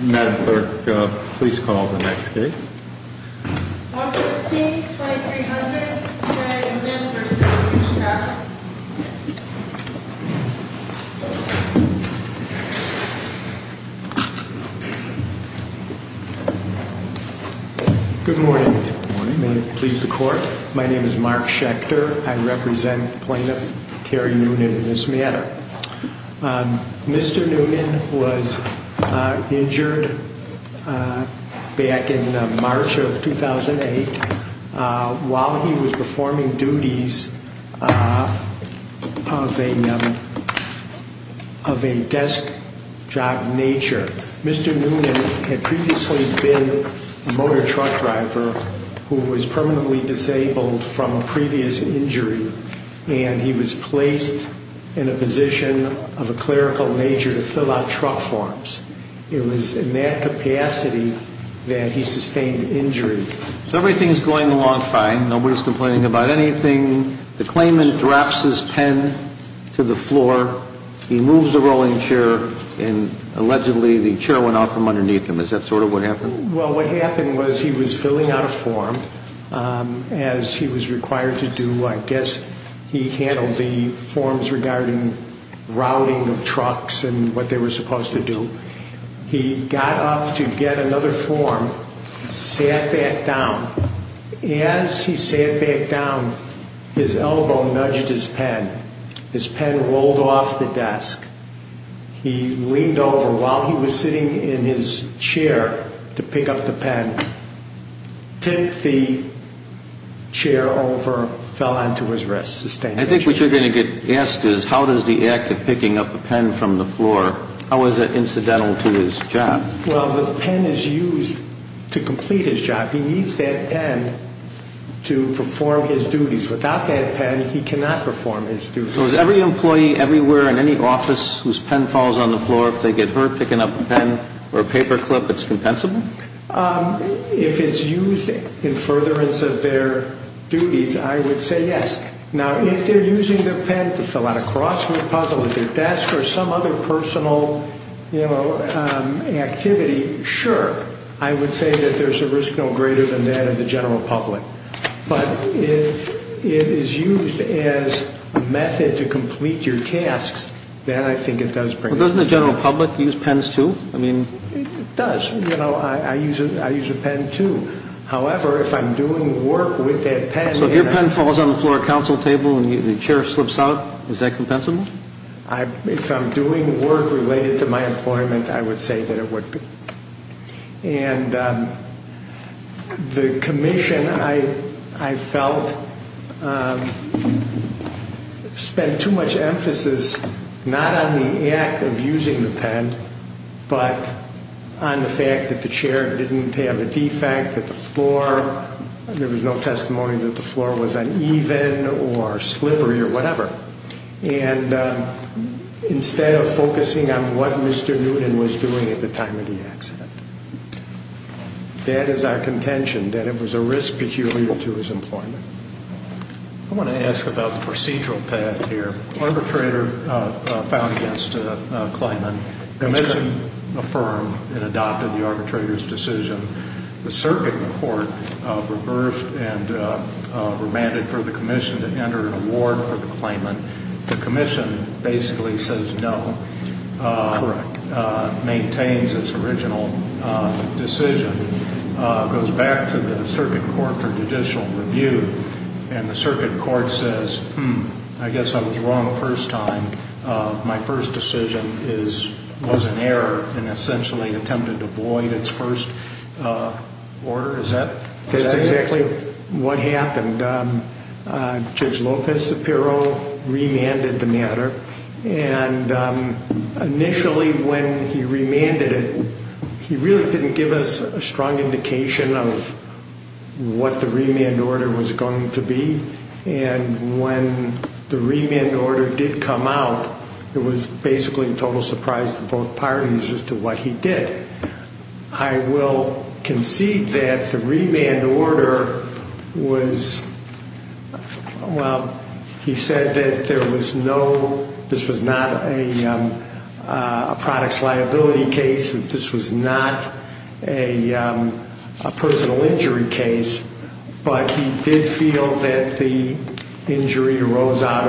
Madam Clerk, please call the next case. 115-2300, J. Noonan v. Chicago. Good morning. May it please the Court. My name is Mark Schechter. I represent Plaintiff Carrie Noonan v. Mieta. Mr. Noonan was injured back in March of 2008 while he was performing duties of a desk job nature. Mr. Noonan had previously been a motor truck driver who was permanently disabled from a previous injury, and he was placed in a position of a clerical nature to fill out truck forms. It was in that capacity that he sustained the injury. So everything's going along fine. Nobody's complaining about anything. The claimant drops his pen to the floor, he moves the rolling chair, and allegedly the chair went out from underneath him. Is that sort of what happened? Well, what happened was he was filling out a form as he was required to do. I guess he handled the forms regarding routing of trucks and what they were supposed to do. He got up to get another form, sat back down. As he sat back down, his elbow nudged his pen. His pen rolled off the desk. He leaned over while he was sitting in his chair to pick up the pen. Tipped the chair over, fell onto his wrist, sustained the injury. I think what you're going to get asked is how does the act of picking up the pen from the floor, how is that incidental to his job? Well, the pen is used to complete his job. He needs that pen to perform his duties. Without that pen, he cannot perform his duties. So is every employee everywhere in any office whose pen falls on the floor, if they get hurt picking up a pen or a paper clip, it's compensable? If it's used in furtherance of their duties, I would say yes. Now, if they're using their pen to fill out a crossword puzzle at their desk or some other personal activity, sure. I would say that there's a risk no greater than that of the general public. But if it is used as a method to complete your tasks, then I think it does bring the pen. Doesn't the general public use pens, too? It does. I use a pen, too. However, if I'm doing work with that pen... So if your pen falls on the floor at a council table and the chair slips out, is that compensable? If I'm doing work related to my employment, I would say that it would be. And the commission, I felt, spent too much emphasis not on the act of using the pen, but on the fact that the chair didn't have a defect, that the floor... There was no testimony that the floor was uneven or slippery or whatever. And instead of focusing on what Mr. Newton was doing at the time of the accident. That is our contention, that it was a risk peculiar to his employment. I want to ask about the procedural path here. Arbitrator filed against a claimant. The commission affirmed and adopted the arbitrator's decision. The circuit court reversed and remanded for the commission to enter an award for the claimant. The commission basically says no. Correct. Maintains its original decision. Goes back to the circuit court for judicial review. And the circuit court says, hmm, I guess I was wrong the first time. My first decision was an error and essentially attempted to void its first order. Is that what you're saying? That's exactly what happened. Judge Lopez-Sapiro remanded the matter. And initially when he remanded it, he really didn't give us a strong indication of what the remand order was going to be. And when the remand order did come out, it was basically a total surprise to both parties as to what he did. I will concede that the remand order was, well, he said that there was no, this was not a products liability case. This was not a personal injury case. But he did feel that the injury arose out of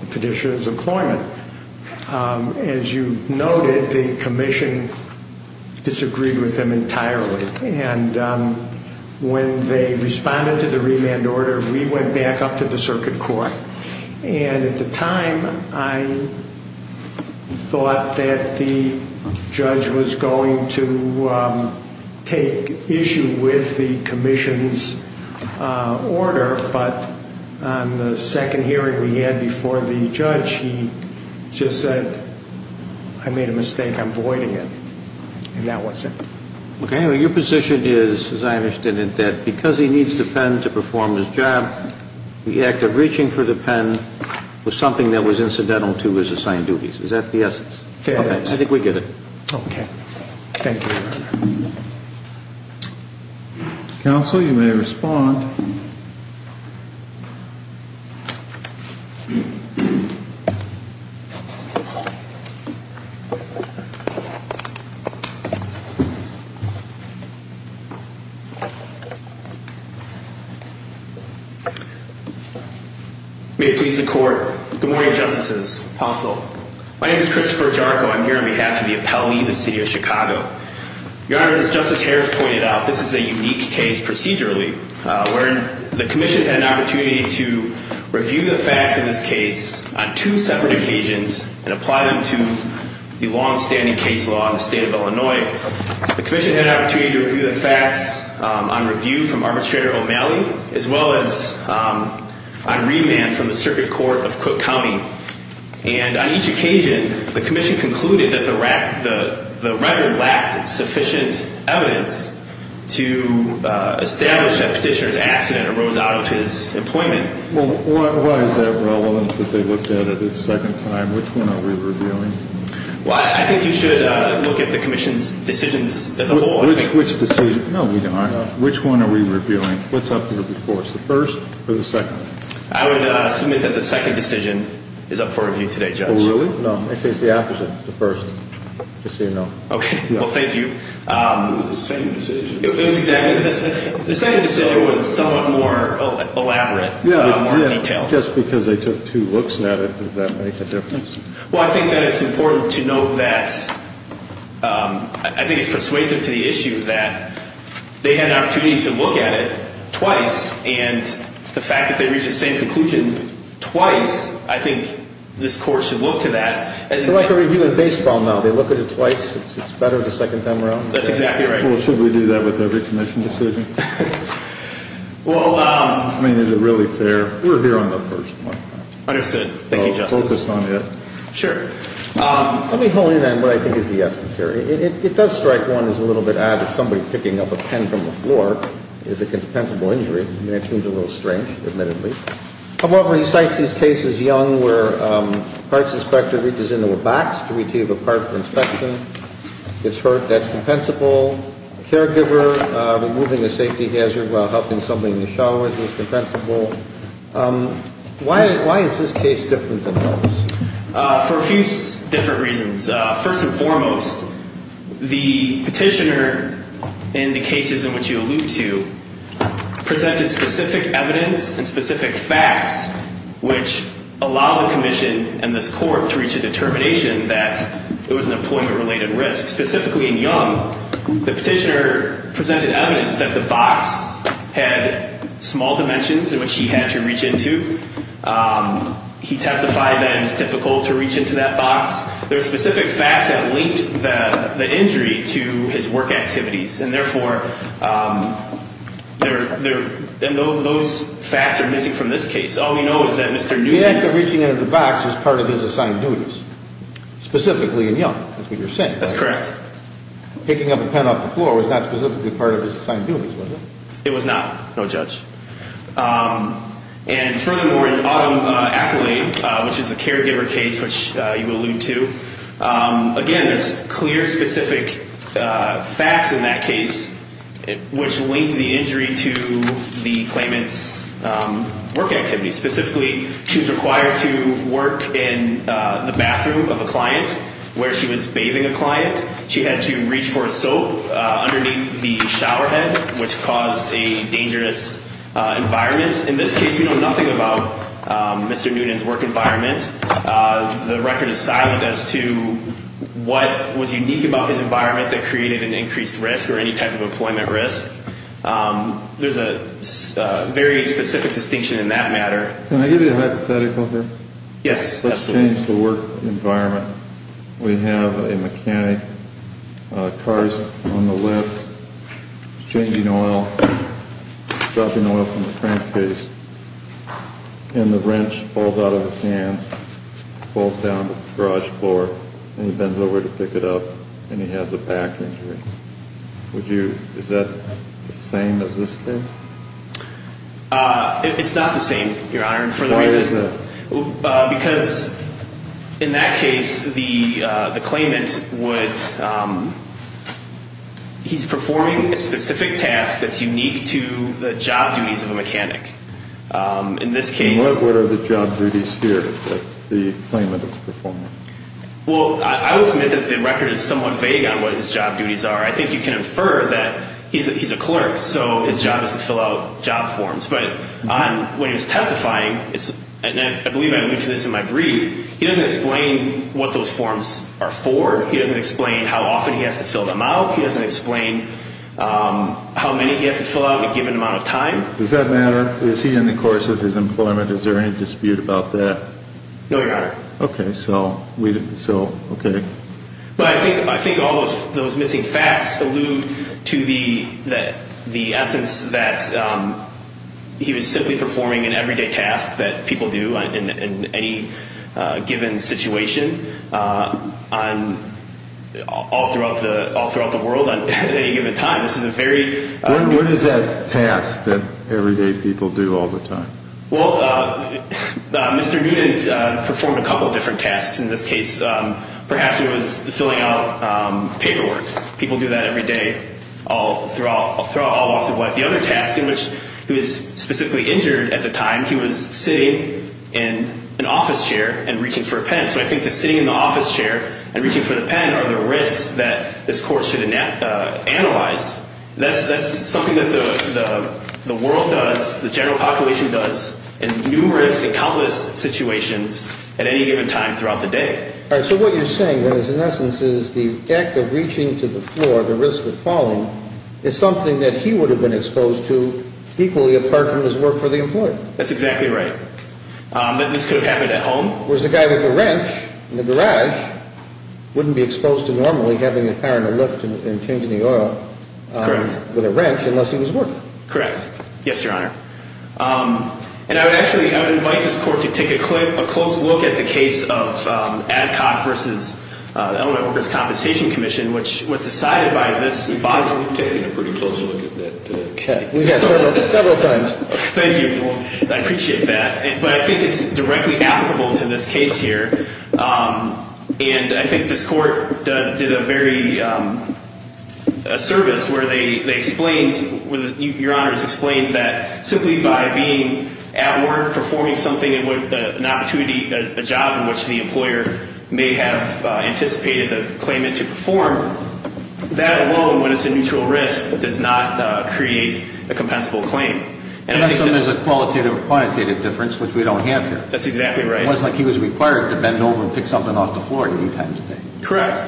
the petitioner's employment. As you noted, the commission disagreed with him entirely. And when they responded to the remand order, we went back up to the circuit court. And at the time, I thought that the judge was going to take issue with the commission's order. But on the second hearing we had before the judge, he just said, I made a mistake. I'm voiding it. And that was it. Your position is, as I understand it, that because he needs the pen to perform his job, the act of reaching for the pen was something that was incidental to his assigned duties. Is that the essence? I think we get it. Okay. Thank you. Counsel, you may respond. May it please the court. Good morning, Justices. Counsel. My name is Christopher Jarko. I'm here on behalf of the appellee of the city of Chicago. Your Honor, as Justice Harris pointed out, this is a unique case procedurally. The commission had an opportunity to review the facts of this case on two separate occasions and apply them to the longstanding case law in the state of Illinois. The commission had an opportunity to review the facts on review from Arbitrator O'Malley as well as on remand from the circuit court of Cook County. And on each occasion, the commission concluded that the record lacked sufficient evidence to establish that petitioner's accident arose out of his employment. Well, why is that relevant that they looked at it a second time? Which one are we reviewing? Well, I think you should look at the commission's decisions as a whole. Which decision? No, we don't. Which one are we reviewing? What's up here before us, the first or the second? I would submit that the second decision is up for review today, Judge. Oh, really? No, I think the opposite, the first. Just so you know. Okay. Well, thank you. It was the same decision. It was exactly the same. The second decision was somewhat more elaborate, more detailed. Just because they took two looks at it, does that make a difference? Well, I think that it's important to note that I think it's persuasive to the issue that they had an opportunity to look at it twice, and the fact that they reached the same conclusion twice, I think this court should look to that. It's like a review in baseball now. They look at it twice. It's better the second time around. That's exactly right. Well, should we do that with every commission decision? Well, I mean, is it really fair? We're here on the first one. Understood. Thank you, Justice. Sure. Let me hone in on what I think is the essence here. It does strike one as a little bit odd that somebody picking up a pen from the floor is a compensable injury. I mean, it seems a little strange, admittedly. However, he cites these cases, Young, where a parts inspector reaches into a box to retrieve a part for inspection. It's hurt. That's compensable. A caregiver removing a safety hazard while helping somebody in the shower is compensable. Why is this case different than those? For a few different reasons. First and foremost, the petitioner in the cases in which you allude to presented specific evidence and specific facts which allow the commission and this court to reach a determination that it was an employment-related risk. Specifically in Young, the petitioner presented evidence that the box had small dimensions in which he had to reach into. He testified that it was difficult to reach into that box. There are specific facts that linked the injury to his work activities. And, therefore, those facts are missing from this case. All we know is that Mr. Newby The act of reaching into the box was part of his assigned duties. Specifically in Young. That's what you're saying. That's correct. Picking up a pen off the floor was not specifically part of his assigned duties, was it? It was not. No judge. And, furthermore, in Autumn Ackley, which is a caregiver case which you allude to, again, there's clear, specific facts in that case which linked the injury to the claimant's work activities. Specifically, she was required to work in the bathroom of a client where she was bathing a client. She had to reach for a soap underneath the shower head which caused a dangerous environment. In this case, we know nothing about Mr. Noonan's work environment. The record is silent as to what was unique about his environment that created an increased risk or any type of employment risk. There's a very specific distinction in that matter. Can I give you a hypothetical here? Yes, absolutely. Let's change the work environment. We have a mechanic, car's on the lift, changing oil, dropping oil from the crankcase, and the wrench falls out of his hands, falls down to the garage floor, and he bends over to pick it up, and he has a back injury. Is that the same as this case? It's not the same, Your Honor. Why is that? Because in that case, the claimant would, he's performing a specific task that's unique to the job duties of a mechanic. In this case... What are the job duties here that the claimant is performing? Well, I would submit that the record is somewhat vague on what his job duties are. I think you can infer that he's a clerk, so his job is to fill out job forms. But when he's testifying, and I believe I alluded to this in my brief, he doesn't explain what those forms are for. He doesn't explain how often he has to fill them out. He doesn't explain how many he has to fill out in a given amount of time. Does that matter? Is he in the course of his employment? Is there any dispute about that? No, Your Honor. Okay. So, okay. But I think all those missing facts allude to the essence that he was simply performing an everyday task that people do in any given situation all throughout the world at any given time. This is a very... What is that task that everyday people do all the time? Well, Mr. Newton performed a couple of different tasks in this case. Perhaps it was filling out paperwork. People do that everyday throughout all walks of life. The other task in which he was specifically injured at the time, he was sitting in an office chair and reaching for a pen. So I think the sitting in the office chair and reaching for the pen are the risks that this court should analyze. That's something that the world does, the general population does in numerous and countless situations at any given time throughout the day. All right. So what you're saying is in essence is the act of reaching to the floor, the risk of falling, is something that he would have been exposed to equally apart from his work for the employer. That's exactly right. But this could have happened at home. Whereas the guy with the wrench in the garage wouldn't be exposed to normally having the power in the lift and changing the oil with a wrench unless he was working. Correct. Yes, Your Honor. And I would actually invite this court to take a close look at the case of Adcock v. Element Workers' Compensation Commission, which was decided by this body. We've taken a pretty close look at that case. We have, several times. Thank you. I appreciate that. But I think it's directly applicable to this case here. And I think this court did a very, a service where they explained, Your Honors, explained that simply by being at work performing something and with an opportunity, a job in which the employer may have anticipated the claimant to perform, that alone, when it's a mutual risk, does not create a compensable claim. Unless there's a qualitative or quantitative difference, which we don't have here. That's exactly right. It wasn't like he was required to bend over and pick something off the floor at any time of day. Correct.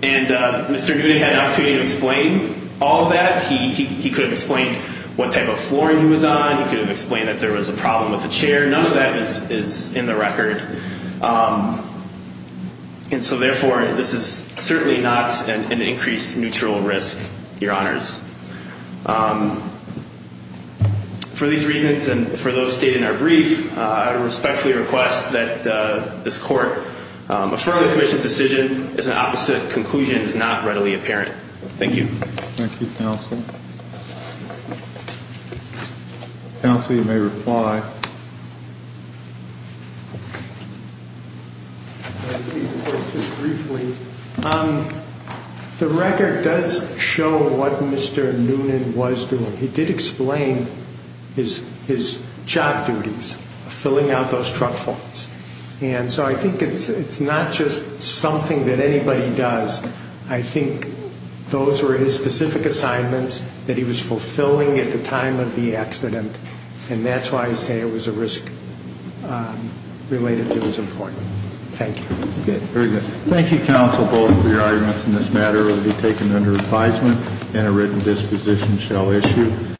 And Mr. Newton had an opportunity to explain all of that. He could have explained what type of flooring he was on. He could have explained that there was a problem with the chair. None of that is in the record. And so, therefore, this is certainly not an increased mutual risk, Your Honors. For these reasons and for those stated in our brief, I respectfully request that this court affirm the commission's decision as an opposite conclusion is not readily apparent. Thank you. Thank you, counsel. Counsel, you may reply. The record does show what Mr. Noonan was doing. He did explain his job duties, filling out those truck forms. And so I think it's not just something that anybody does. I think those were his specific assignments that he was fulfilling at the time of the accident. And that's why I say it was a risk related to his employment. Thank you. Very good. Thank you, counsel, both for your arguments in this matter. It will be taken under advisement and a written disposition shall issue.